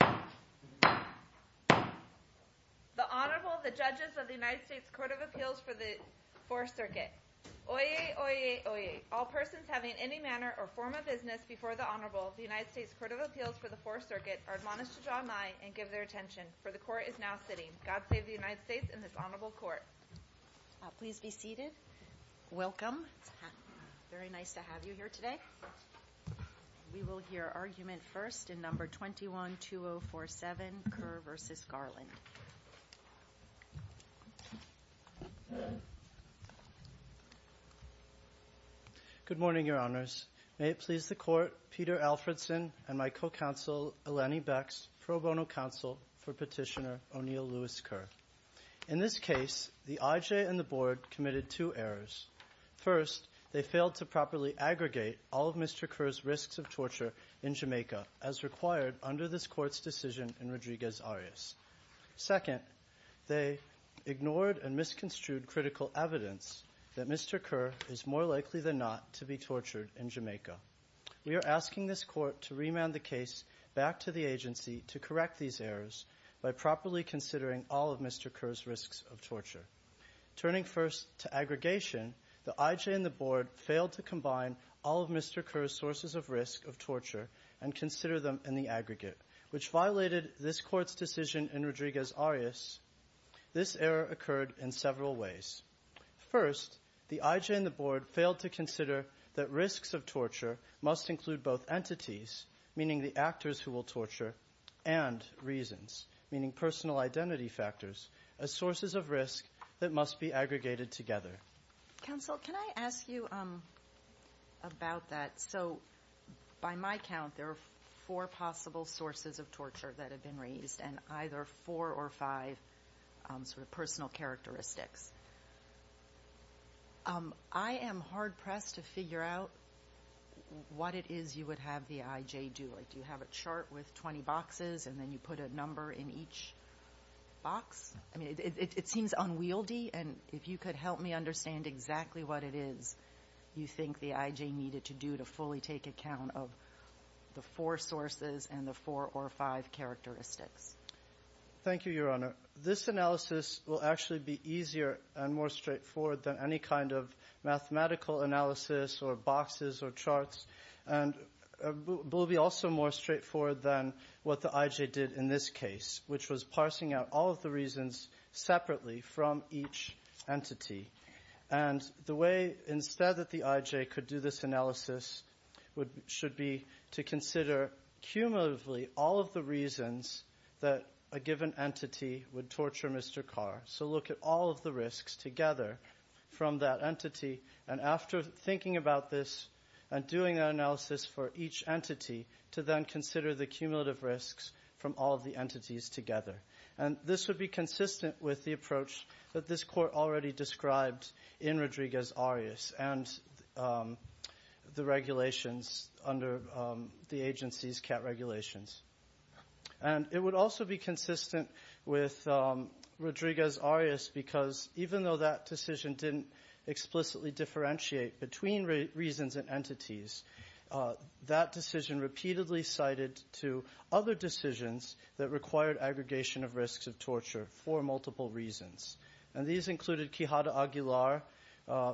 The Honorable, the Judges of the United States Court of Appeals for the Fourth Circuit. Oyez! Oyez! Oyez! All persons having any manner or form of business before the Honorable of the United States Court of Appeals for the Fourth Circuit are admonished to draw nigh and give their attention, for the Court is now sitting. God save the United States and this Honorable Court. Please be seated. Welcome. It's very nice to have you here today. We will hear argument first in No. 21-2047, Kerr v. Garland. Good morning, Your Honors. May it please the Court, Peter Alfredson and my co-counsel Eleni Becks, pro bono counsel for Petitioner O'Neill Lewis Kerr. In this case, the IJ and the Board committed two errors. First, they failed to properly aggregate all of Mr. Kerr's risks of torture in Jamaica as required under this Court's decision in Rodriguez-Arias. Second, they ignored and misconstrued critical evidence that Mr. Kerr is more likely than not to be tortured in Jamaica. We are asking this Court to remand the case back to the agency to correct these errors by properly considering all of Mr. Kerr's risks of torture. Turning first to aggregation, the IJ and the Board failed to combine all of Mr. Kerr's sources of risk of torture and consider them in the aggregate, which violated this Court's decision in Rodriguez-Arias. This error occurred in several ways. First, the IJ and the Board failed to consider that risks of torture must include both entities, meaning the actors who will torture, and reasons, meaning personal identity factors, as sources of risk that must be aggregated together. Counsel, can I ask you about that? So by my count, there are four possible sources of torture that have been raised and either four or five sort of personal characteristics. I am hard-pressed to figure out what it is you would have the IJ do. Like, do you have a chart with 20 boxes and then you put a number in each box? I mean, it seems unwieldy, and if you could help me understand exactly what it is you think the IJ needed to do to fully take account of the four sources and the four or five characteristics. Thank you, Your Honor. This analysis will actually be easier and more straightforward than any kind of mathematical analysis or boxes or charts. And it will be also more straightforward than what the IJ did in this case, which was parsing out all of the reasons separately from each entity. And the way instead that the IJ could do this analysis should be to consider cumulatively all of the reasons that a given entity would torture Mr. Carr. So look at all of the risks together from that entity. And after thinking about this and doing that analysis for each entity, to then consider the cumulative risks from all of the entities together. And this would be consistent with the approach that this Court already described in Rodriguez-Arias and the regulations under the agency's CAT regulations. And it would also be consistent with Rodriguez-Arias because even though that decision didn't explicitly differentiate between reasons and entities, that decision repeatedly cited to other decisions that required aggregation of risks of torture for multiple reasons. And these included Quijada Aguilar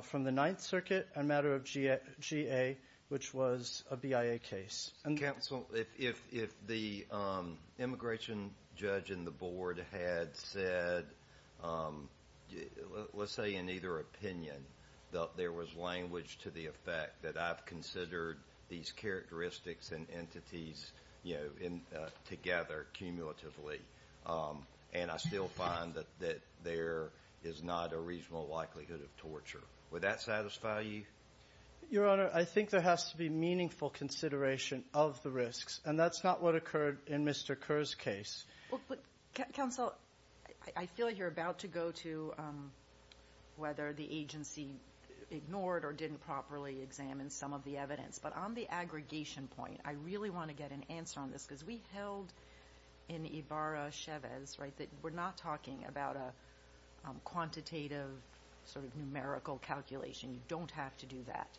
from the Ninth Circuit and matter of GA, which was a BIA case. Counsel, if the immigration judge in the Board had said, let's say in either opinion, that there was language to the effect that I've considered these characteristics and entities together cumulatively and I still find that there is not a reasonable likelihood of torture, would that satisfy you? Your Honor, I think there has to be meaningful consideration of the risks. And that's not what occurred in Mr. Carr's case. Counsel, I feel like you're about to go to whether the agency ignored or didn't properly examine some of the evidence. But on the aggregation point, I really want to get an answer on this because we held in Ibarra-Chavez, right, that we're not talking about a quantitative sort of numerical calculation. You don't have to do that.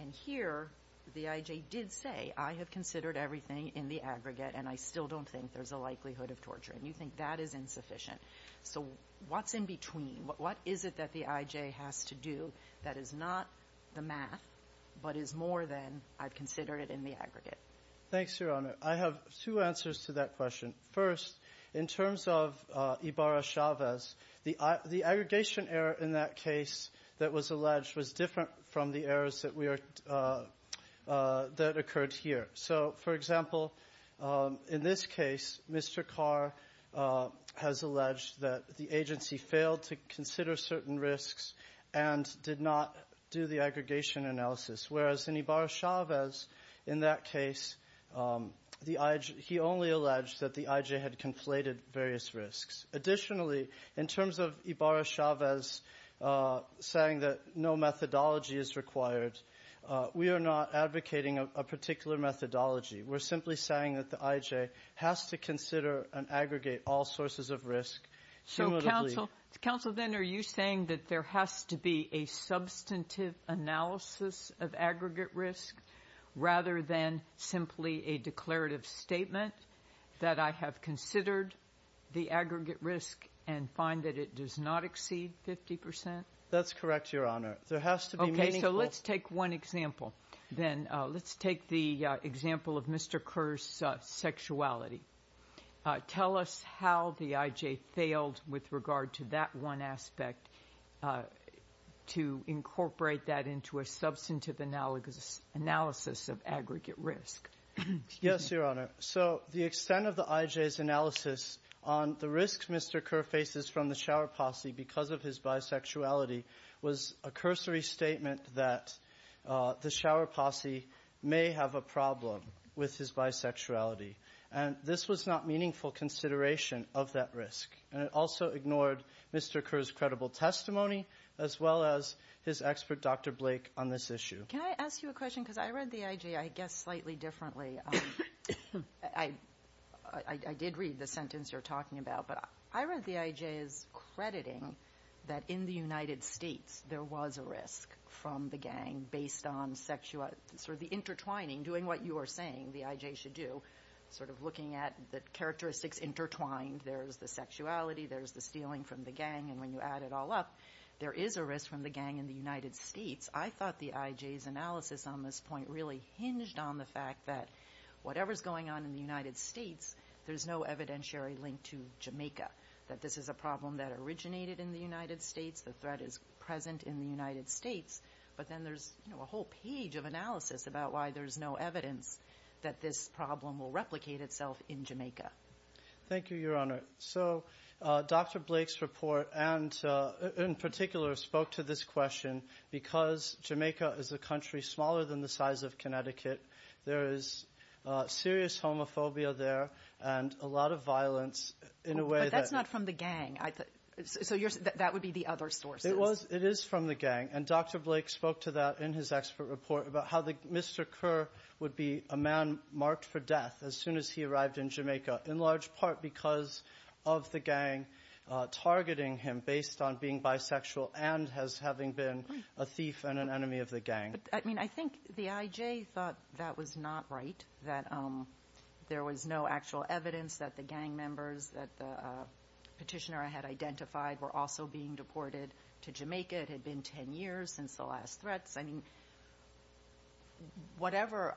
And here the IJ did say, I have considered everything in the aggregate and I still don't think there's a likelihood of torture. And you think that is insufficient. So what's in between? What is it that the IJ has to do that is not the math but is more than I've considered it in the aggregate? Thanks, Your Honor. I have two answers to that question. First, in terms of Ibarra-Chavez, the aggregation error in that case that was alleged was different from the errors that occurred here. So, for example, in this case, Mr. Carr has alleged that the agency failed to consider certain risks and did not do the aggregation analysis, whereas in Ibarra-Chavez, in that case, he only alleged that the IJ had conflated various risks. Additionally, in terms of Ibarra-Chavez saying that no methodology is required, we are not advocating a particular methodology. We're simply saying that the IJ has to consider and aggregate all sources of risk. So, counsel, then, are you saying that there has to be a substantive analysis of aggregate risk rather than simply a declarative statement that I have considered the aggregate risk and find that it does not exceed 50 percent? That's correct, Your Honor. Okay, so let's take one example, then. Let's take the example of Mr. Carr's sexuality. Tell us how the IJ failed with regard to that one aspect to incorporate that into a substantive analysis of aggregate risk. Yes, Your Honor. So the extent of the IJ's analysis on the risks Mr. Carr faces from the shower posse because of his bisexuality was a cursory statement that the shower posse may have a problem with his bisexuality. And this was not meaningful consideration of that risk. And it also ignored Mr. Carr's credible testimony as well as his expert, Dr. Blake, on this issue. Can I ask you a question? Because I read the IJ, I guess, slightly differently. I did read the sentence you're talking about, but I read the IJ's crediting that in the United States there was a risk from the gang based on sexual – doing what you are saying the IJ should do, sort of looking at the characteristics intertwined. There's the sexuality. There's the stealing from the gang. And when you add it all up, there is a risk from the gang in the United States. I thought the IJ's analysis on this point really hinged on the fact that whatever's going on in the United States, there's no evidentiary link to Jamaica, that this is a problem that originated in the United States. The threat is present in the United States. But then there's a whole page of analysis about why there's no evidence that this problem will replicate itself in Jamaica. Thank you, Your Honor. So Dr. Blake's report, in particular, spoke to this question. Because Jamaica is a country smaller than the size of Connecticut, there is serious homophobia there and a lot of violence in a way that – But that's not from the gang. It is from the gang. And Dr. Blake spoke to that in his expert report about how Mr. Kerr would be a man marked for death as soon as he arrived in Jamaica, in large part because of the gang targeting him based on being bisexual and as having been a thief and an enemy of the gang. I mean, I think the IJ thought that was not right, that there was no actual evidence that the gang members that the petitioner had identified were also being deported to Jamaica. It had been 10 years since the last threats. I mean, whatever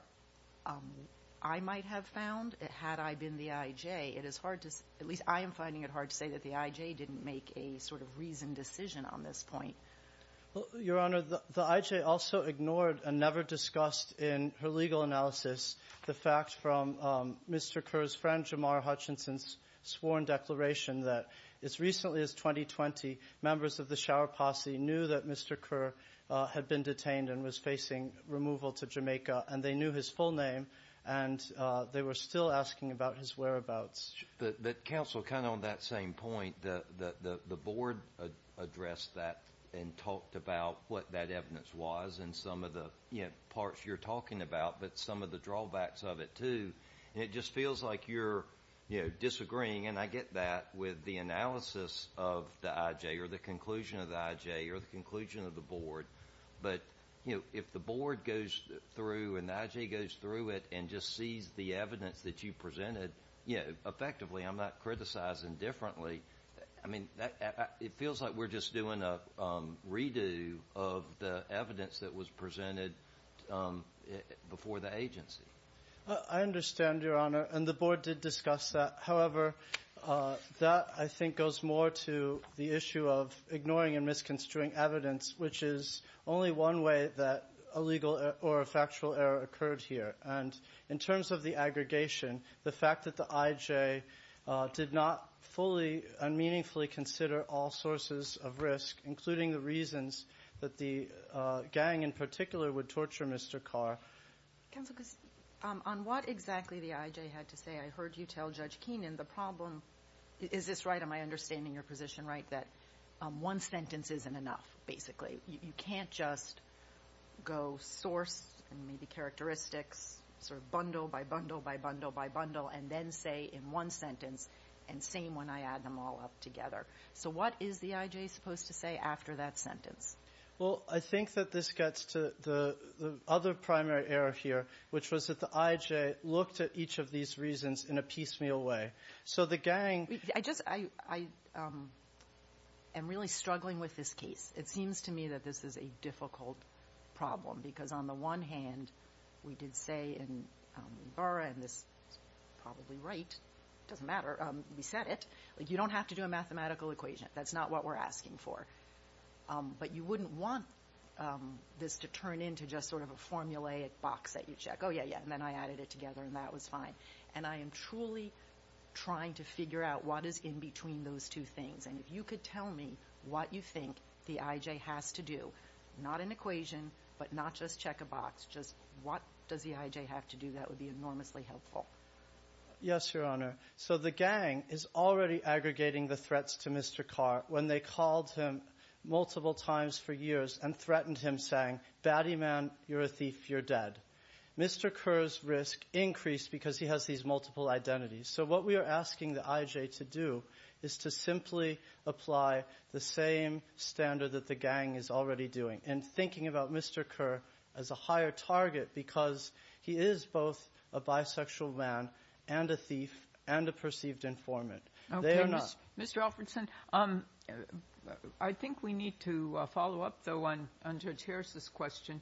I might have found, had I been the IJ, it is hard to – at least I am finding it hard to say that the IJ didn't make a sort of reasoned decision on this point. Your Honor, the IJ also ignored and never discussed in her legal analysis the fact from Mr. Kerr's friend, Dr. Mara Hutchinson's sworn declaration that as recently as 2020, members of the Shower Posse knew that Mr. Kerr had been detained and was facing removal to Jamaica, and they knew his full name, and they were still asking about his whereabouts. Counsel, kind of on that same point, the Board addressed that and talked about what that evidence was and some of the parts you're talking about, but some of the drawbacks of it too. And it just feels like you're, you know, disagreeing, and I get that, with the analysis of the IJ or the conclusion of the IJ or the conclusion of the Board. But, you know, if the Board goes through and the IJ goes through it and just sees the evidence that you presented, you know, effectively, I'm not criticizing differently. I mean, it feels like we're just doing a redo of the evidence that was presented before the agency. I understand, Your Honor, and the Board did discuss that. However, that, I think, goes more to the issue of ignoring and misconstruing evidence, which is only one way that a legal or a factual error occurred here. And in terms of the aggregation, the fact that the IJ did not fully and meaningfully consider all sources of risk, including the reasons that the gang in particular would torture Mr. Kerr. Counsel, on what exactly the IJ had to say, I heard you tell Judge Keenan the problem, is this right, am I understanding your position right, that one sentence isn't enough, basically. You can't just go source and maybe characteristics, sort of bundle by bundle by bundle by bundle, and then say in one sentence, and same when I add them all up together. So what is the IJ supposed to say after that sentence? Well, I think that this gets to the other primary error here, which was that the IJ looked at each of these reasons in a piecemeal way. So the gang ‑‑ I just ‑‑ I am really struggling with this case. It seems to me that this is a difficult problem, because on the one hand, we did say in Ibarra, and this is probably right, it doesn't matter, we said it, you don't have to do a mathematical equation. That's not what we're asking for. But you wouldn't want this to turn into just sort of a formulaic box that you check. Oh, yeah, yeah, and then I added it together, and that was fine. And I am truly trying to figure out what is in between those two things. And if you could tell me what you think the IJ has to do, not an equation, but not just check a box, just what does the IJ have to do, that would be enormously helpful. Yes, Your Honor. So the gang is already aggregating the threats to Mr. Carr when they called him multiple times for years and threatened him, saying, batty man, you're a thief, you're dead. Mr. Kerr's risk increased because he has these multiple identities. So what we are asking the IJ to do is to simply apply the same standard that the gang is already doing and thinking about Mr. Kerr as a higher target because he is both a bisexual man and a thief and a perceived informant. They are not. Okay, Mr. Alferdson, I think we need to follow up, though, on Judge Harris's question.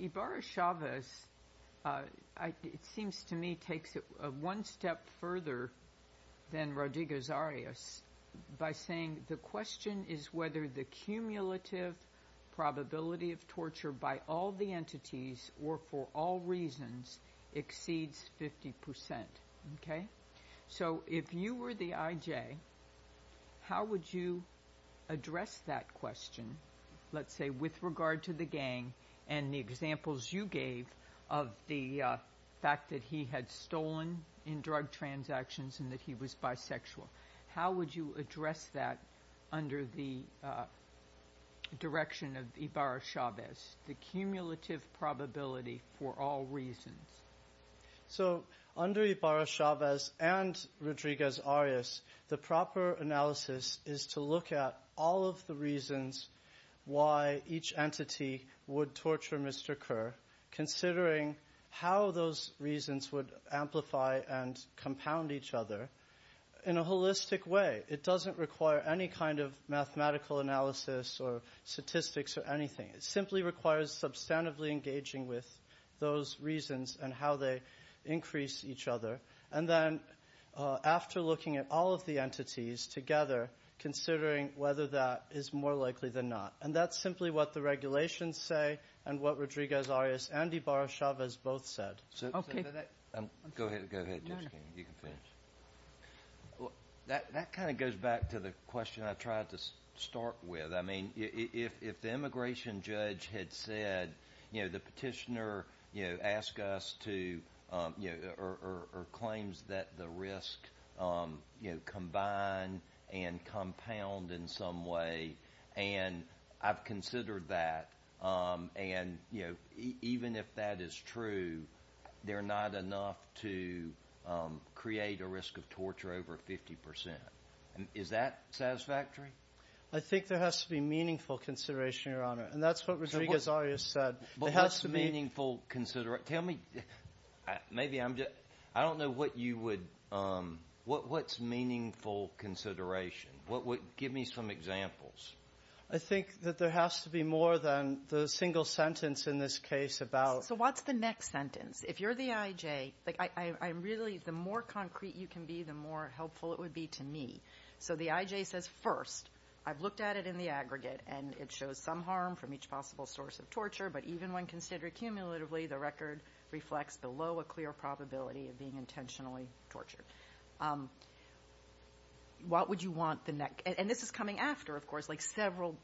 Ibarra-Chavez, it seems to me, takes it one step further than Rodriguez-Arias by saying the question is whether the cumulative probability of torture by all the entities or for all reasons exceeds 50%. So if you were the IJ, how would you address that question, let's say, with regard to the gang and the examples you gave of the fact that he had stolen in drug transactions and that he was bisexual? How would you address that under the direction of Ibarra-Chavez, the cumulative probability for all reasons? So under Ibarra-Chavez and Rodriguez-Arias, the proper analysis is to look at all of the reasons why each entity would torture Mr. Kerr, considering how those reasons would amplify and compound each other. In a holistic way, it doesn't require any kind of mathematical analysis or statistics or anything. It simply requires substantively engaging with those reasons and how they increase each other. And then after looking at all of the entities together, considering whether that is more likely than not. And that's simply what the regulations say and what Rodriguez-Arias and Ibarra-Chavez both said. Go ahead. You can finish. That kind of goes back to the question I tried to start with. I mean, if the immigration judge had said, you know, the petitioner, you know, asks us to, you know, or claims that the risk, you know, combine and compound in some way, and I've considered that, and, you know, even if that is true, they're not enough to create a risk of torture over 50 percent. Is that satisfactory? I think there has to be meaningful consideration, Your Honor. And that's what Rodriguez-Arias said. But what's meaningful consideration? Tell me, maybe I'm just, I don't know what you would, what's meaningful consideration? What would, give me some examples. I think that there has to be more than the single sentence in this case about. So what's the next sentence? If you're the IJ, like, I'm really, the more concrete you can be, the more helpful it would be to me. So the IJ says, first, I've looked at it in the aggregate, and it shows some harm from each possible source of torture. But even when considered cumulatively, the record reflects below a clear probability of being intentionally tortured. What would you want the next? And this is coming after, of course, like several,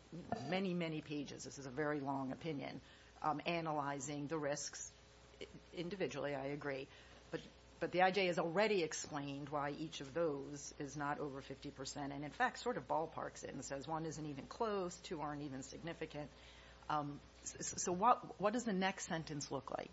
many, many pages. This is a very long opinion. Analyzing the risks individually, I agree. But the IJ has already explained why each of those is not over 50 percent, and in fact sort of ballparks it and says one isn't even close, two aren't even significant. So what does the next sentence look like?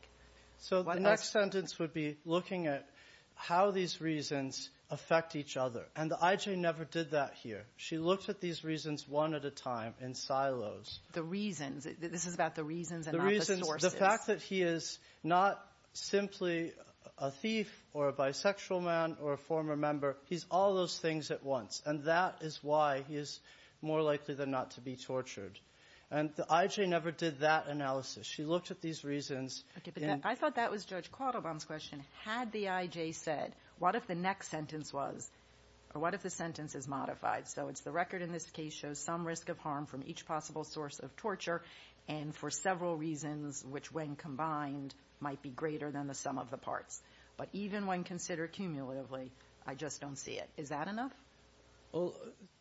So the next sentence would be looking at how these reasons affect each other. And the IJ never did that here. She looked at these reasons one at a time in silos. The reasons. This is about the reasons and not the sources. The reasons. The fact that he is not simply a thief or a bisexual man or a former member. He's all those things at once. And that is why he is more likely than not to be tortured. And the IJ never did that analysis. She looked at these reasons. Okay. But I thought that was Judge Quattlebaum's question. Had the IJ said, what if the next sentence was or what if the sentence is modified? So it's the record in this case shows some risk of harm from each possible source of torture and for several reasons which when combined might be greater than the sum of the parts. But even when considered cumulatively, I just don't see it. Is that enough?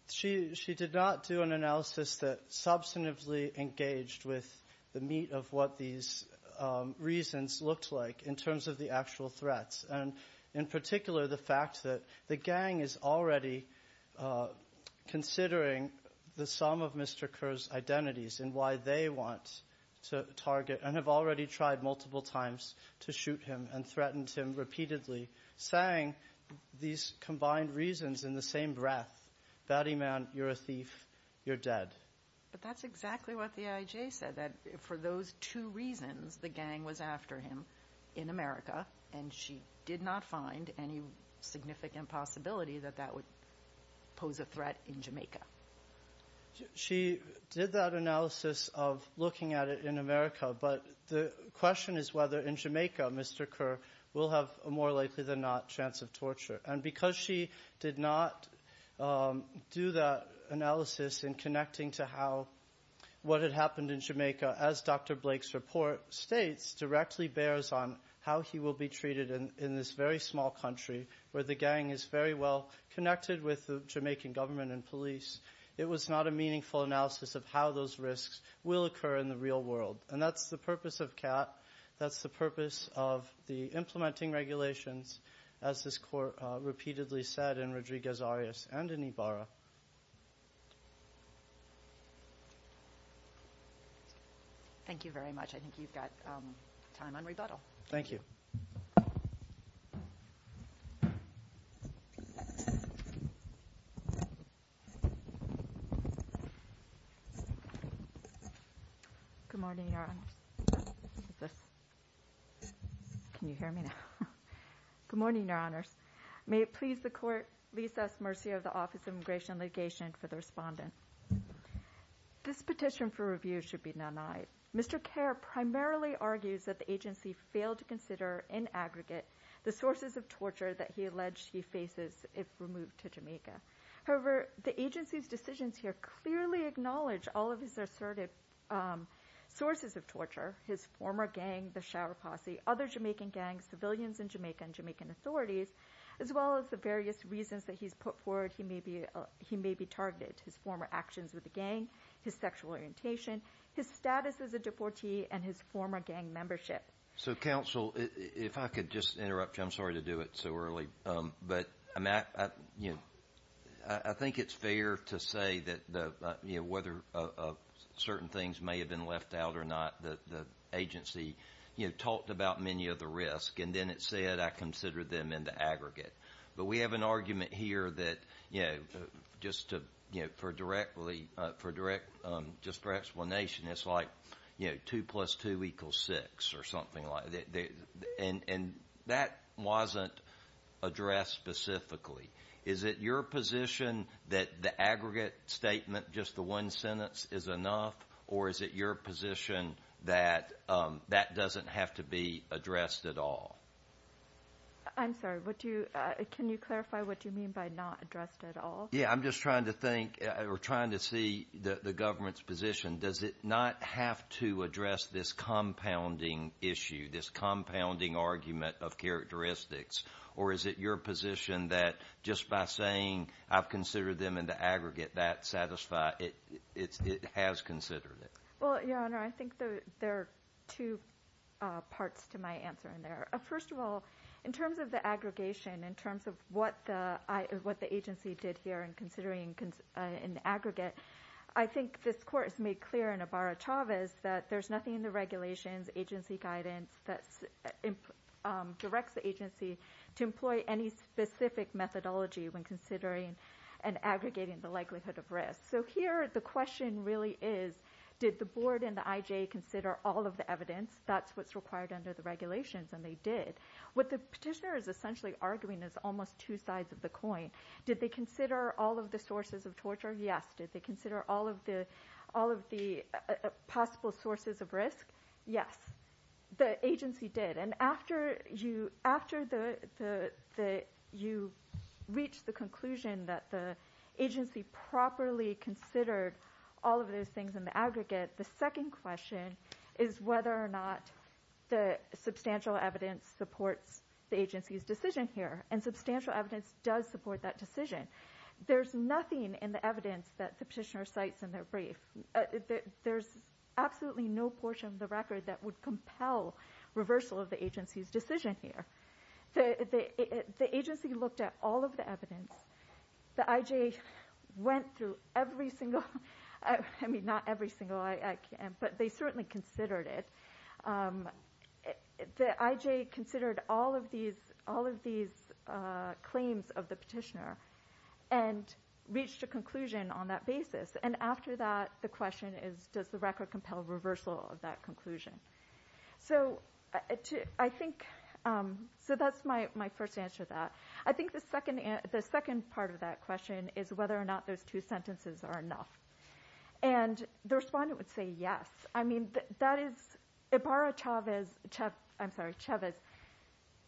She did not do an analysis that substantively engaged with the meat of what these reasons looked like in terms of the actual threats and in particular the fact that the gang is already considering the sum of Mr. Kerr's identities and why they want to target and have already tried multiple times to shoot him and threatened him repeatedly, saying these combined reasons in the same breath, batty man, you're a thief, you're dead. But that's exactly what the IJ said, that for those two reasons, the gang was after him in America and she did not find any significant possibility that that would pose a threat in Jamaica. She did that analysis of looking at it in America, but the question is whether in Jamaica, Mr. Kerr will have a more likely than not chance of torture. And because she did not do that analysis in connecting to what had happened in Jamaica, as Dr. Blake's report states, directly bears on how he will be treated in this very small country where the gang is very well connected with the Jamaican government and police, it was not a meaningful analysis of how those risks will occur in the real world. And that's the purpose of CAT. That's the purpose of the implementing regulations, as this court repeatedly said in Rodriguez-Arias and in Ibarra. Thank you very much. I think you've got time on rebuttal. Thank you. Good morning, Your Honors. Can you hear me now? Good morning, Your Honors. May it please the Court, lease us mercy of the Office of Immigration and Litigation for the respondent. This petition for review should be none-eyed. Mr. Kerr primarily argues that the agency failed to consider in aggregate the sources of torture that he alleged he faces if removed to Jamaica. However, the agency's decisions here clearly acknowledge all of his assertive sources of torture, his former gang, the Shower Posse, other Jamaican gangs, civilians in Jamaica, and Jamaican authorities, as well as the various reasons that he's put forward he may be targeted, his former actions with the gang, his sexual orientation, his status as a deportee, and his former gang membership. So, counsel, if I could just interrupt you. I'm sorry to do it so early. But I think it's fair to say that whether certain things may have been left out or not, the agency talked about many of the risks, and then it said, I considered them in the aggregate. But we have an argument here that, you know, just for direct explanation, it's like two plus two equals six or something like that. And that wasn't addressed specifically. Is it your position that the aggregate statement, just the one sentence, is enough, or is it your position that that doesn't have to be addressed at all? I'm sorry. Can you clarify what you mean by not addressed at all? Yeah, I'm just trying to think or trying to see the government's position. Does it not have to address this compounding issue, this compounding argument of characteristics? Or is it your position that just by saying, I've considered them in the aggregate, that it has considered it? Well, Your Honor, I think there are two parts to my answer in there. First of all, in terms of the aggregation, in terms of what the agency did here in considering in the aggregate, I think this Court has made clear in Ibarra-Chavez that there's nothing in the regulations, agency guidance, that directs the agency to employ any specific methodology when considering and aggregating the likelihood of risk. So here the question really is, did the board and the IJ consider all of the evidence? That's what's required under the regulations, and they did. What the petitioner is essentially arguing is almost two sides of the coin. Did they consider all of the sources of torture? Yes. Did they consider all of the possible sources of risk? Yes, the agency did. And after you reach the conclusion that the agency properly considered all of those things in the aggregate, the second question is whether or not the substantial evidence supports the agency's decision here, and substantial evidence does support that decision. There's nothing in the evidence that the petitioner cites in their brief. There's absolutely no portion of the record that would compel reversal of the agency's decision here. The agency looked at all of the evidence. The IJ went through every single one. I mean, not every single one, but they certainly considered it. The IJ considered all of these claims of the petitioner and reached a conclusion on that basis. And after that, the question is, does the record compel reversal of that conclusion? So that's my first answer to that. I think the second part of that question is whether or not those two sentences are enough. And the respondent would say yes. I mean, that is Ibarra-Chavez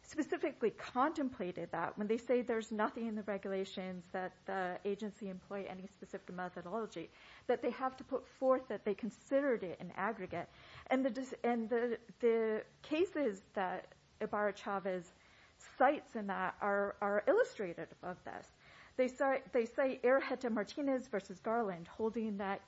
specifically contemplated that. When they say there's nothing in the regulations that the agency employ any specific methodology, that they have to put forth that they considered it in aggregate. And the cases that Ibarra-Chavez cites in that are illustrated above this. They cite Errejeta-Martinez v. Garland, holding that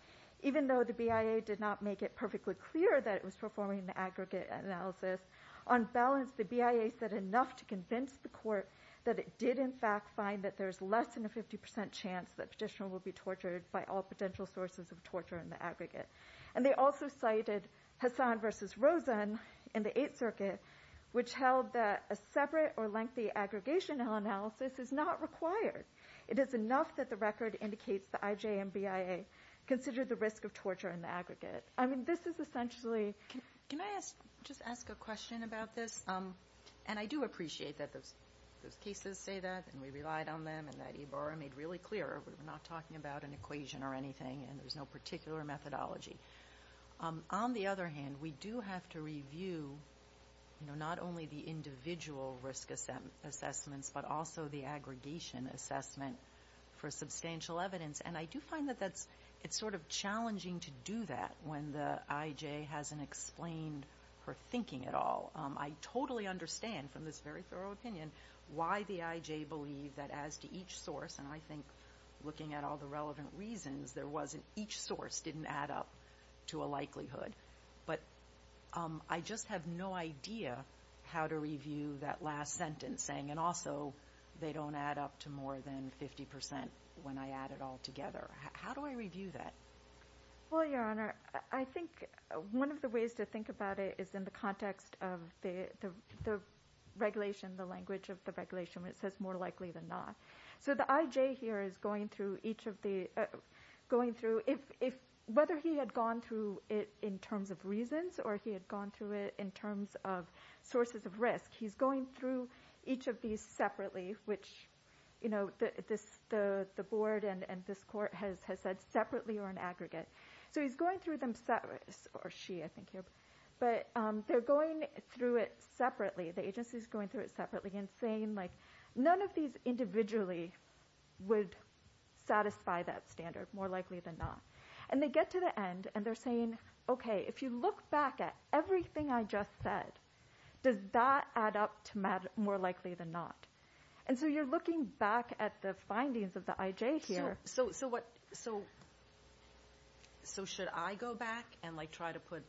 even though the BIA did not make it perfectly clear that it was performing the aggregate analysis, on balance the BIA said enough to convince the court that it did in fact find that there's less than a 50% chance that the petitioner will be tortured And they also cited Hassan v. Rosen in the Eighth Circuit, which held that a separate or lengthy aggregation analysis is not required. It is enough that the record indicates the IJ and BIA considered the risk of torture in the aggregate. I mean, this is essentially... Can I just ask a question about this? And I do appreciate that those cases say that, and we relied on them, and that Ibarra made really clear that we're not talking about an equation or anything, and there's no particular methodology. On the other hand, we do have to review not only the individual risk assessments, but also the aggregation assessment for substantial evidence. And I do find that it's sort of challenging to do that when the IJ hasn't explained her thinking at all. I totally understand from this very thorough opinion why the IJ believed that as to each source, and I think looking at all the relevant reasons, each source didn't add up to a likelihood. But I just have no idea how to review that last sentence saying, and also they don't add up to more than 50% when I add it all together. How do I review that? Well, Your Honor, I think one of the ways to think about it is in the context of the regulation, the language of the regulation where it says more likely than not. So the IJ here is going through each of the, whether he had gone through it in terms of reasons or he had gone through it in terms of sources of risk, he's going through each of these separately, which the board and this court has said separately or in aggregate. So he's going through them separately, or she I think here, but they're going through it separately. The agency is going through it separately and saying none of these individually would satisfy that standard, more likely than not. And they get to the end and they're saying, okay, if you look back at everything I just said, does that add up to more likely than not? And so you're looking back at the findings of the IJ here. So should I go back and try to put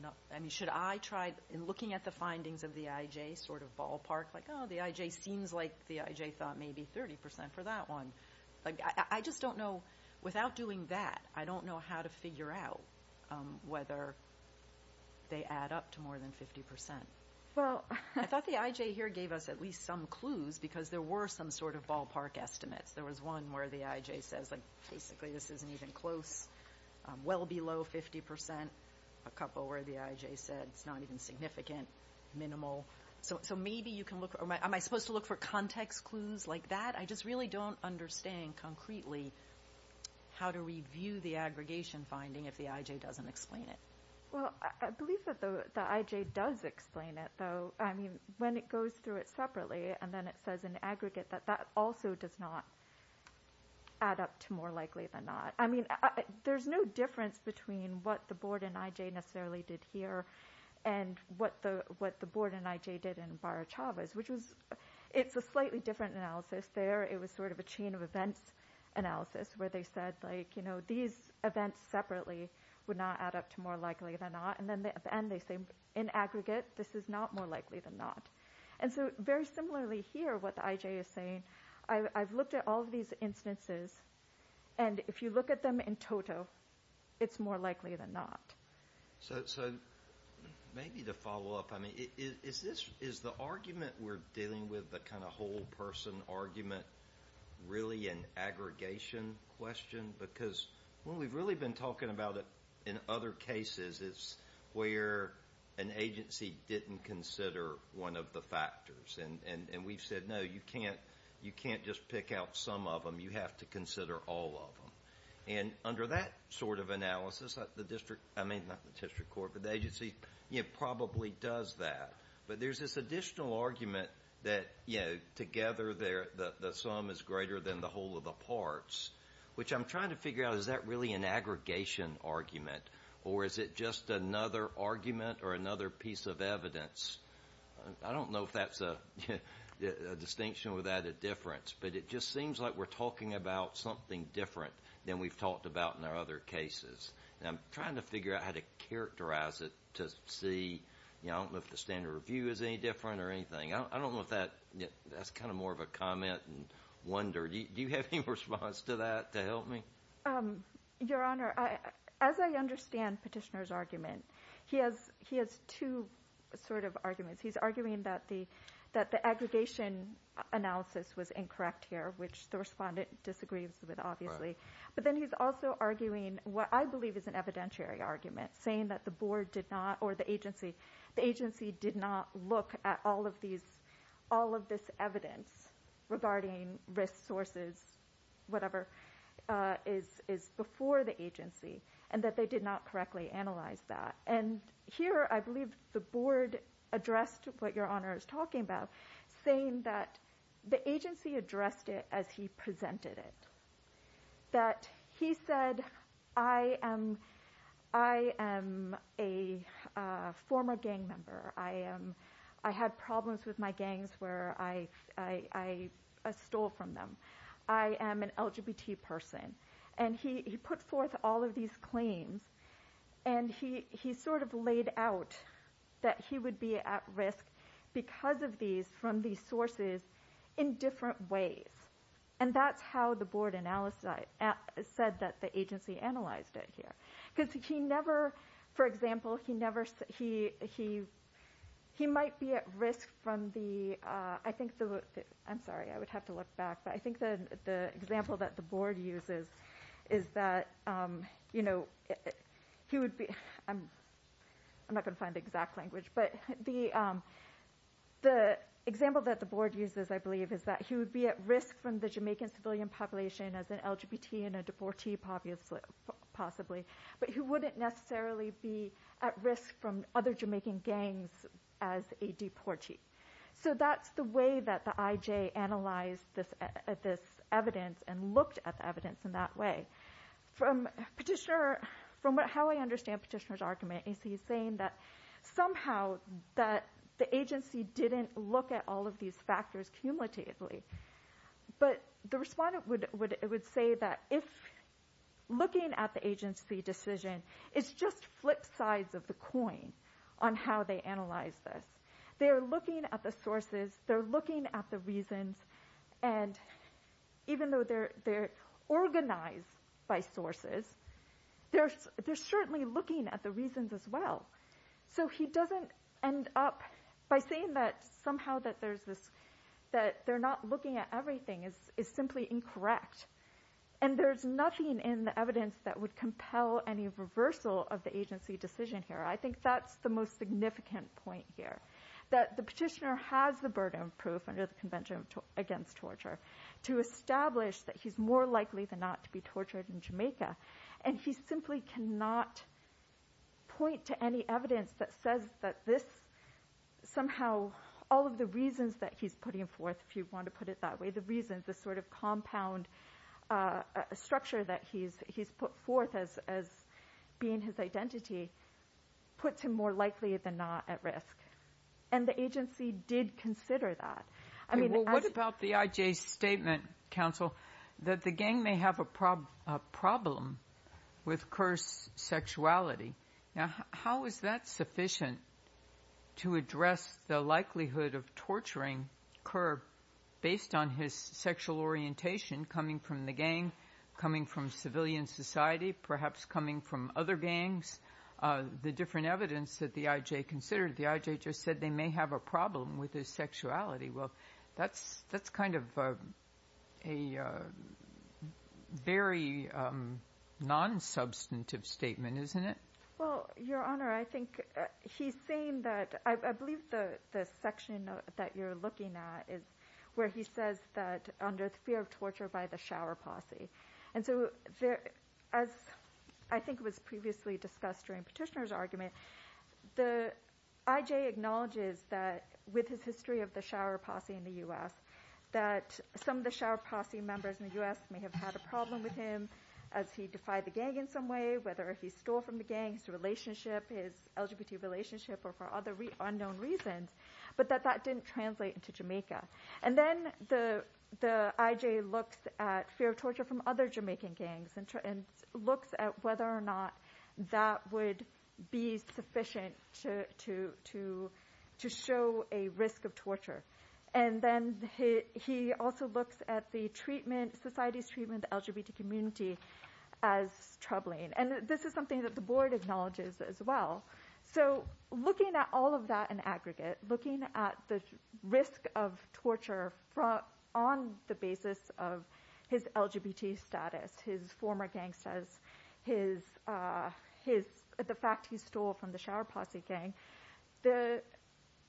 enough, I mean, should I try, in looking at the findings of the IJ sort of ballpark, like, oh, the IJ seems like the IJ thought maybe 30% for that one. I just don't know, without doing that, I don't know how to figure out whether they add up to more than 50%. I thought the IJ here gave us at least some clues because there were some sort of ballpark estimates. There was one where the IJ says, like, basically this isn't even close, well below 50%, a couple where the IJ said it's not even significant, minimal. So maybe you can look, am I supposed to look for context clues like that? I just really don't understand concretely how to review the aggregation finding if the IJ doesn't explain it. Well, I believe that the IJ does explain it, though. I mean, when it goes through it separately and then it says in aggregate that that also does not add up to more likely than not. I mean, there's no difference between what the board in IJ necessarily did here and what the board in IJ did in Baruch Havas, which was, it's a slightly different analysis there. It was sort of a chain of events analysis where they said, like, you know, these events separately would not add up to more likely than not. And then at the end they say, in aggregate, this is not more likely than not. And so very similarly here, what the IJ is saying, I've looked at all of these instances, and if you look at them in total, it's more likely than not. So maybe to follow up, I mean, is the argument we're dealing with, the kind of whole person argument, really an aggregation question? Because what we've really been talking about in other cases is where an agency didn't consider one of the factors. And we've said, no, you can't just pick out some of them. You have to consider all of them. And under that sort of analysis, the district, I mean, not the district court, but the agency probably does that. But there's this additional argument that, you know, together the sum is greater than the whole of the parts, which I'm trying to figure out, is that really an aggregation argument, or is it just another argument or another piece of evidence? I don't know if that's a distinction or that a difference, but it just seems like we're talking about something different than we've talked about in our other cases. And I'm trying to figure out how to characterize it to see, you know, I don't know if the standard review is any different or anything. I don't know if that's kind of more of a comment and wonder. Do you have any response to that to help me? Your Honor, as I understand Petitioner's argument, he has two sort of arguments. He's arguing that the aggregation analysis was incorrect here, which the respondent disagrees with, obviously. But then he's also arguing what I believe is an evidentiary argument, saying that the agency did not look at all of this evidence regarding risk sources, whatever is before the agency, and that they did not correctly analyze that. And here I believe the board addressed what Your Honor is talking about, saying that the agency addressed it as he presented it. That he said, I am a former gang member. I had problems with my gangs where I stole from them. I am an LGBT person. And he put forth all of these claims, and he sort of laid out that he would be at risk because of these from these sources in different ways. And that's how the board said that the agency analyzed it here. Because he never, for example, he might be at risk from the, I'm sorry, I would have to look back, but I think the example that the board uses is that he would be, I'm not going to find the exact language, but the example that the board uses, I believe, is that he would be at risk from the Jamaican civilian population as an LGBT and a deportee possibly, but he wouldn't necessarily be at risk from other Jamaican gangs as a deportee. So that's the way that the IJ analyzed this evidence and looked at the evidence in that way. From how I understand Petitioner's argument, he's saying that somehow that the agency didn't look at all of these factors cumulatively, but the respondent would say that if looking at the agency decision, it's just flip sides of the coin on how they analyze this. They're looking at the sources, they're looking at the reasons, and even though they're organized by sources, they're certainly looking at the reasons as well. So he doesn't end up by saying that somehow that they're not looking at everything is simply incorrect. And there's nothing in the evidence that would compel any reversal of the agency decision here. I think that's the most significant point here, that the Petitioner has the burden of proof under the Convention Against Torture to establish that he's more likely than not to be tortured in Jamaica, and he simply cannot point to any evidence that says that this somehow, all of the reasons that he's putting forth, if you want to put it that way, the reasons, the sort of compound structure that he's put forth as being his identity, puts him more likely than not at risk. And the agency did consider that. What about the IJ's statement, counsel, that the gang may have a problem with Kerr's sexuality? Now, how is that sufficient to address the likelihood of torturing Kerr based on his sexual orientation, coming from the gang, coming from civilian society, perhaps coming from other gangs? The different evidence that the IJ considered, the IJ just said they may have a problem with his sexuality. Well, that's kind of a very non-substantive statement, isn't it? Well, Your Honor, I think he's saying that, I believe the section that you're looking at is where he says that under the fear of torture by the shower posse, and so as I think was previously discussed during Petitioner's argument, the IJ acknowledges that with his history of the shower posse in the U.S., that some of the shower posse members in the U.S. may have had a problem with him as he defied the gang in some way, whether if he stole from the gang, his relationship, his LGBT relationship, or for other unknown reasons, but that that didn't translate into Jamaica. And then the IJ looks at fear of torture from other Jamaican gangs and looks at whether or not that would be sufficient to show a risk of torture. And then he also looks at the treatment, society's treatment of the LGBT community as troubling, and this is something that the Board acknowledges as well. So looking at all of that in aggregate, looking at the risk of torture on the basis of his LGBT status, his former gang status, the fact he stole from the shower posse gang, the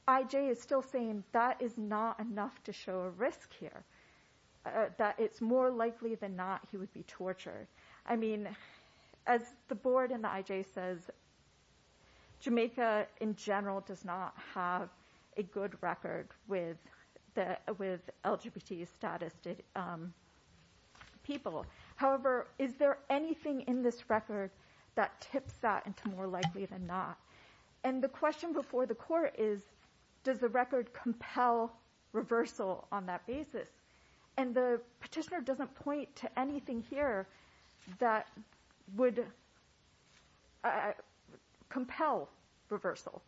IJ is still saying that is not enough to show a risk here, that it's more likely than not he would be tortured. I mean, as the Board and the IJ says, Jamaica in general does not have a good record with LGBT status people. However, is there anything in this record that tips that into more likely than not? And the question before the Court is, does the record compel reversal on that basis? And the petitioner doesn't point to anything here that would compel reversal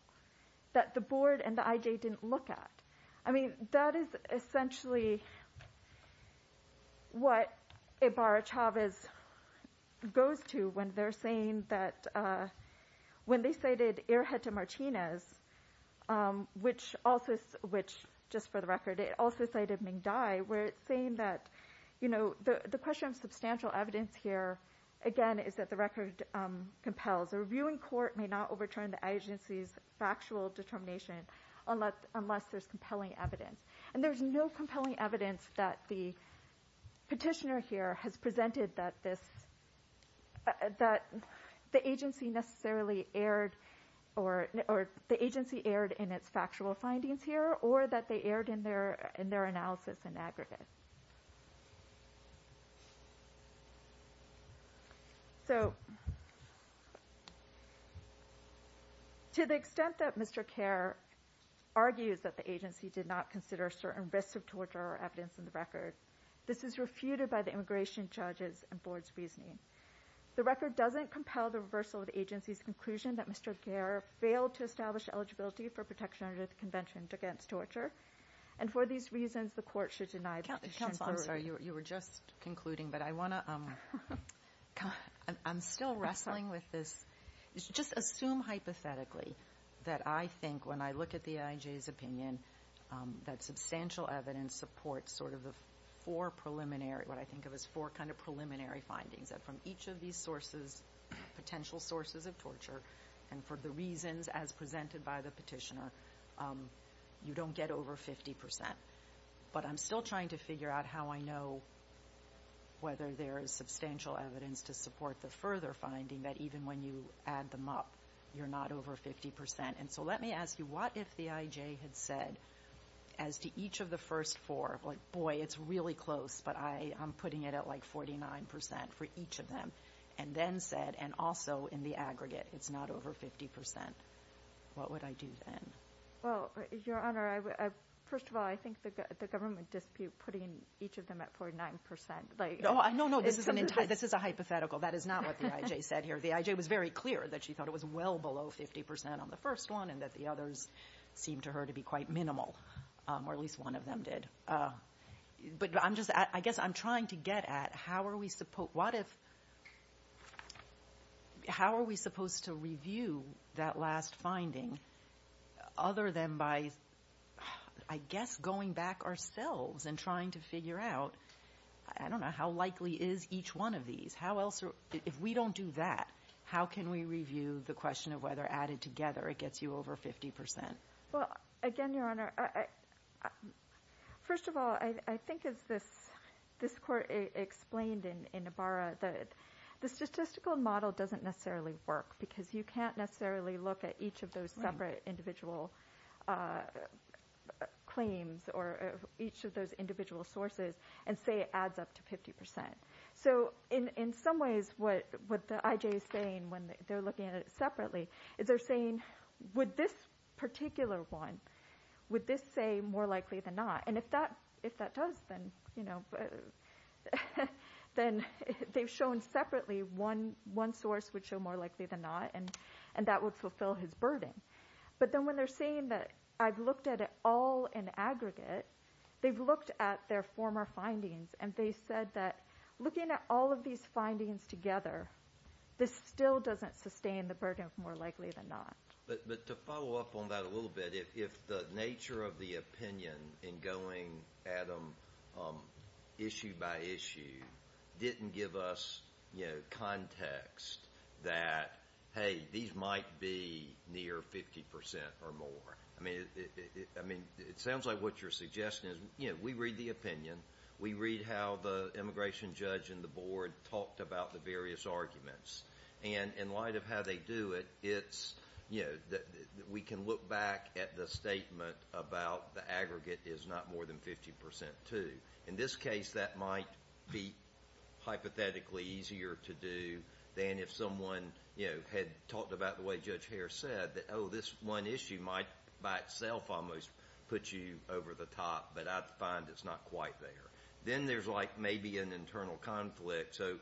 that the Board and the IJ didn't look at. I mean, that is essentially what Ibarra-Chavez goes to when they're saying that when they cited Erjeta Martinez, which also, just for the record, it also cited Ming Dai, where it's saying that the question of substantial evidence here, again, is that the record compels. A review in court may not overturn the agency's factual determination unless there's compelling evidence. And there's no compelling evidence that the petitioner here has presented that the agency necessarily erred, or the agency erred in its factual findings here, or that they erred in their analysis and aggregate. So to the extent that Mr. Kerr argues that the agency did not consider certain risks of torture or evidence in the record, this is refuted by the immigration judges and Board's reasoning. The record doesn't compel the reversal of the agency's conclusion that Mr. Kerr failed to establish eligibility for protection under the Convention Against Torture, and for these reasons the court should deny the petition. Counsel, I'm sorry. You were just concluding, but I want to ‑‑ I'm still wrestling with this. Just assume hypothetically that I think when I look at the IJ's opinion that substantial evidence supports sort of the four preliminary, what I think of as four kind of preliminary findings, that from each of these sources, potential sources of torture, and for the reasons as presented by the petitioner, you don't get over 50%. But I'm still trying to figure out how I know whether there is substantial evidence to support the further finding that even when you add them up, you're not over 50%. And so let me ask you, what if the IJ had said as to each of the first four, like, boy, it's really close, but I'm putting it at like 49% for each of them, and then said, and also in the aggregate, it's not over 50%. What would I do then? Well, Your Honor, first of all, I think the government dispute putting each of them at 49%. No, no, this is a hypothetical. That is not what the IJ said here. The IJ was very clear that she thought it was well below 50% on the first one and that the others seemed to her to be quite minimal, or at least one of them did. But I guess I'm trying to get at how are we supposed to review that last finding other than by, I guess, going back ourselves and trying to figure out, I don't know, how likely is each one of these? If we don't do that, how can we review the question of whether added together it gets you over 50%? Well, again, Your Honor, first of all, I think as this court explained in Ibarra, the statistical model doesn't necessarily work because you can't necessarily look at each of those separate individual claims or each of those individual sources and say it adds up to 50%. So in some ways what the IJ is saying when they're looking at it separately is they're saying, would this particular one, would this say more likely than not? And if that does, then they've shown separately one source would show more likely than not, and that would fulfill his burden. But then when they're saying that I've looked at it all in aggregate, they've looked at their former findings and they said that looking at all of these findings together, this still doesn't sustain the burden of more likely than not. But to follow up on that a little bit, if the nature of the opinion in going at them issue by issue didn't give us context that, hey, these might be near 50% or more. I mean, it sounds like what you're suggesting is, you know, we read the opinion. We read how the immigration judge and the board talked about the various arguments. And in light of how they do it, it's, you know, we can look back at the statement about the aggregate is not more than 50% too. In this case, that might be hypothetically easier to do than if someone, you know, had talked about the way Judge Harris said that, oh, this one issue might by itself almost put you over the top, but I find it's not quite there. Then there's, like, maybe an internal conflict. So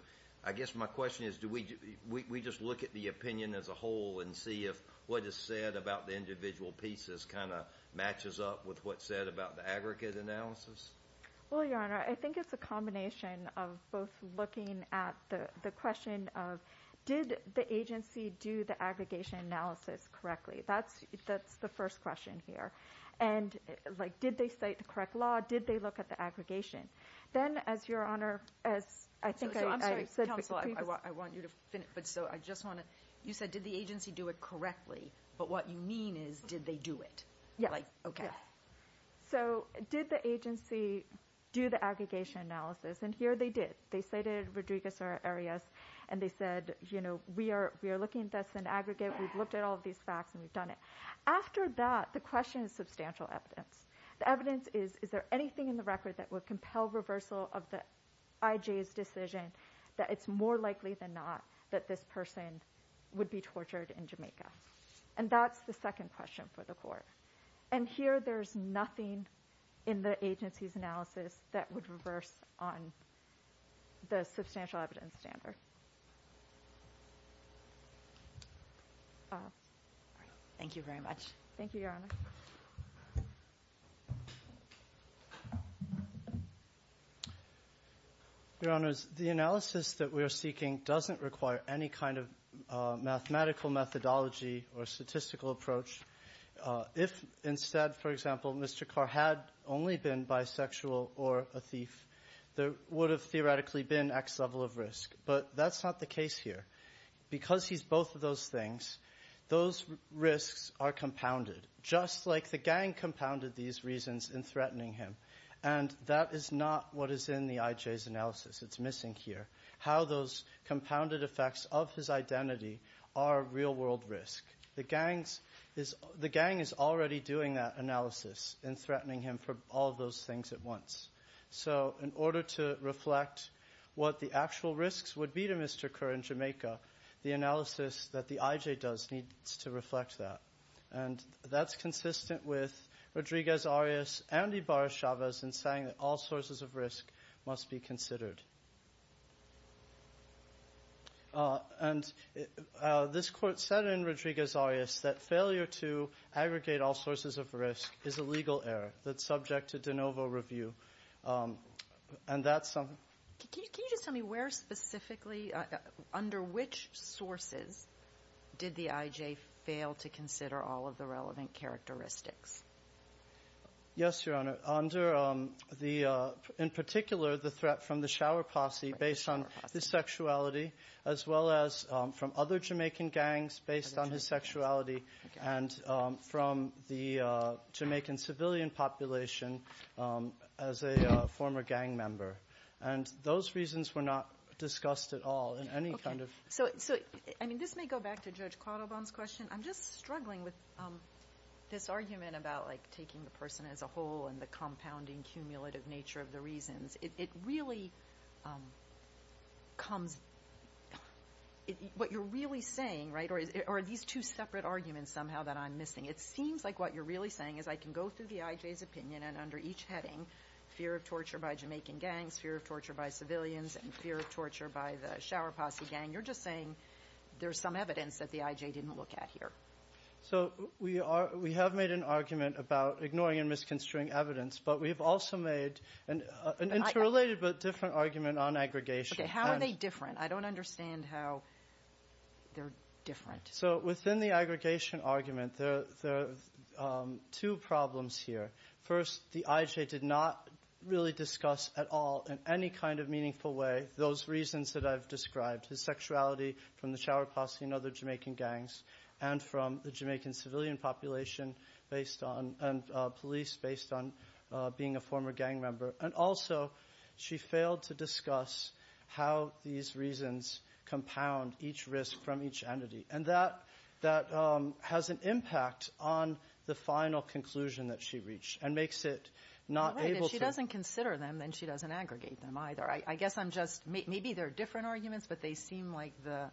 I guess my question is do we just look at the opinion as a whole and see if what is said about the individual pieces kind of matches up with what's said about the aggregate analysis? Well, Your Honor, I think it's a combination of both looking at the question of did the agency do the aggregation analysis correctly? That's the first question here. And, like, did they cite the correct law? Did they look at the aggregation? Then, as Your Honor, as I think I said- So I'm sorry, counsel, I want you to finish. But so I just want to, you said did the agency do it correctly? But what you mean is did they do it? Yeah. Like, okay. So did the agency do the aggregation analysis? And here they did. They cited Rodriguez or Arias, and they said, you know, we are looking at this in aggregate. We've looked at all of these facts, and we've done it. After that, the question is substantial evidence. The evidence is, is there anything in the record that would compel reversal of the IJ's decision that it's more likely than not that this person would be tortured in Jamaica? And that's the second question for the court. And here there's nothing in the agency's analysis that would reverse on the substantial evidence standard. Thank you very much. Thank you, Your Honor. Your Honors, the analysis that we are seeking doesn't require any kind of mathematical methodology or statistical approach. If instead, for example, Mr. Carr had only been bisexual or a thief, there would have theoretically been X level of risk. But that's not the case here. Because he's both of those things, those risks are compounded, just like the gang compounded these reasons in threatening him. And that is not what is in the IJ's analysis. It's missing here. How those compounded effects of his identity are real-world risk. The gang is already doing that analysis in threatening him for all those things at once. So in order to reflect what the actual risks would be to Mr. Carr in Jamaica, the analysis that the IJ does needs to reflect that. And that's consistent with Rodriguez-Arias and Ibarra-Chavez in saying that all sources of risk must be considered. And this court said in Rodriguez-Arias that failure to aggregate all sources of risk is a legal error that's subject to de novo review. And that's... Can you just tell me where specifically, under which sources, did the IJ fail to consider all of the relevant characteristics? Yes, Your Honor. Under the, in particular, the threat from the shower posse based on his sexuality, as well as from other Jamaican gangs based on his sexuality, and from the Jamaican civilian population as a former gang member. And those reasons were not discussed at all in any kind of... So, I mean, this may go back to Judge Quattlebaum's question. I'm just struggling with this argument about, like, taking the person as a whole and the compounding, cumulative nature of the reasons. It really comes... What you're really saying, right, or are these two separate arguments somehow that I'm missing? It seems like what you're really saying is I can go through the IJ's opinion and under each heading, fear of torture by Jamaican gangs, fear of torture by civilians, and fear of torture by the shower posse gang. You're just saying there's some evidence that the IJ didn't look at here. So we have made an argument about ignoring and misconstruing evidence, but we've also made an interrelated but different argument on aggregation. Okay, how are they different? I don't understand how they're different. So within the aggregation argument, there are two problems here. First, the IJ did not really discuss at all in any kind of meaningful way those reasons that I've described, his sexuality from the shower posse and other Jamaican gangs and from the Jamaican civilian population and police based on being a former gang member. And also she failed to discuss how these reasons compound each risk from each entity. And that has an impact on the final conclusion that she reached and makes it not able to. All right, if she doesn't consider them, then she doesn't aggregate them either. I guess I'm just maybe they're different arguments, but they seem like the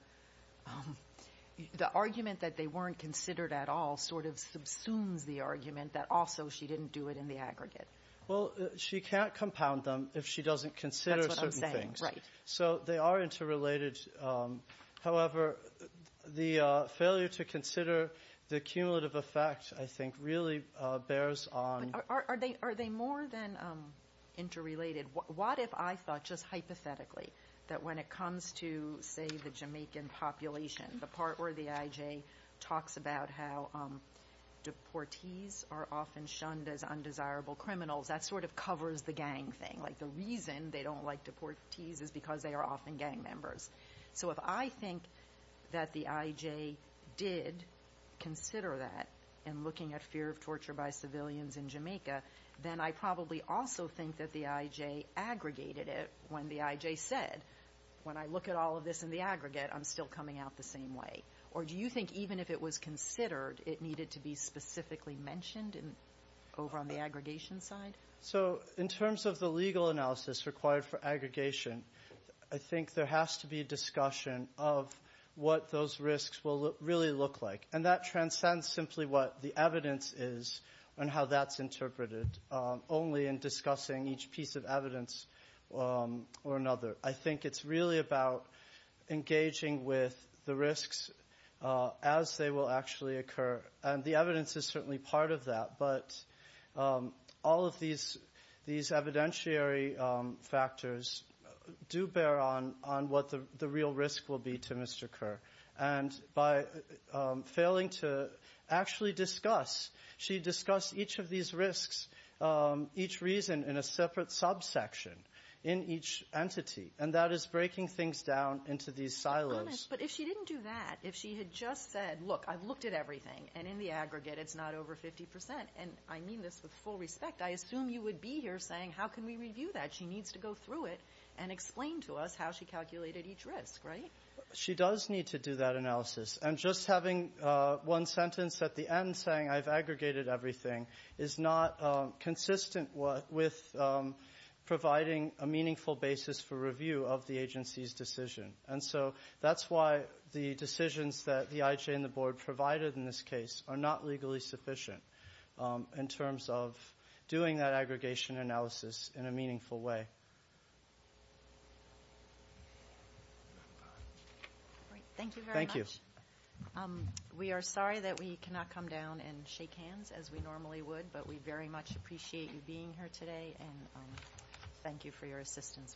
argument that they weren't considered at all sort of subsumes the argument that also she didn't do it in the aggregate. Well, she can't compound them if she doesn't consider certain things. That's what I'm saying, right. So they are interrelated. However, the failure to consider the cumulative effect, I think, really bears on. Are they more than interrelated? What if I thought just hypothetically that when it comes to, say, the Jamaican population, the part where the IJ talks about how deportees are often shunned as undesirable criminals, that sort of covers the gang thing. Like the reason they don't like deportees is because they are often gang members. So if I think that the IJ did consider that in looking at fear of torture by civilians in Jamaica, then I probably also think that the IJ aggregated it when the IJ said, when I look at all of this in the aggregate, I'm still coming out the same way. Or do you think even if it was considered, it needed to be specifically mentioned over on the aggregation side? So in terms of the legal analysis required for aggregation, I think there has to be a discussion of what those risks will really look like. And that transcends simply what the evidence is and how that's interpreted only in discussing each piece of evidence or another. I think it's really about engaging with the risks as they will actually occur. And the evidence is certainly part of that. But all of these evidentiary factors do bear on what the real risk will be to Mr. Kerr. And by failing to actually discuss, she discussed each of these risks, each reason in a separate subsection in each entity. And that is breaking things down into these silos. But if she didn't do that, if she had just said, look, I've looked at everything. And in the aggregate, it's not over 50%. And I mean this with full respect. I assume you would be here saying, how can we review that? She needs to go through it and explain to us how she calculated each risk, right? She does need to do that analysis. And just having one sentence at the end saying, I've aggregated everything, is not consistent with providing a meaningful basis for review of the agency's decision. And so that's why the decisions that the IJ and the Board provided in this case are not legally sufficient in terms of doing that aggregation analysis in a meaningful way. Thank you very much. Thank you. We are sorry that we cannot come down and shake hands as we normally would. But we very much appreciate you being here today. And thank you for your assistance with this case.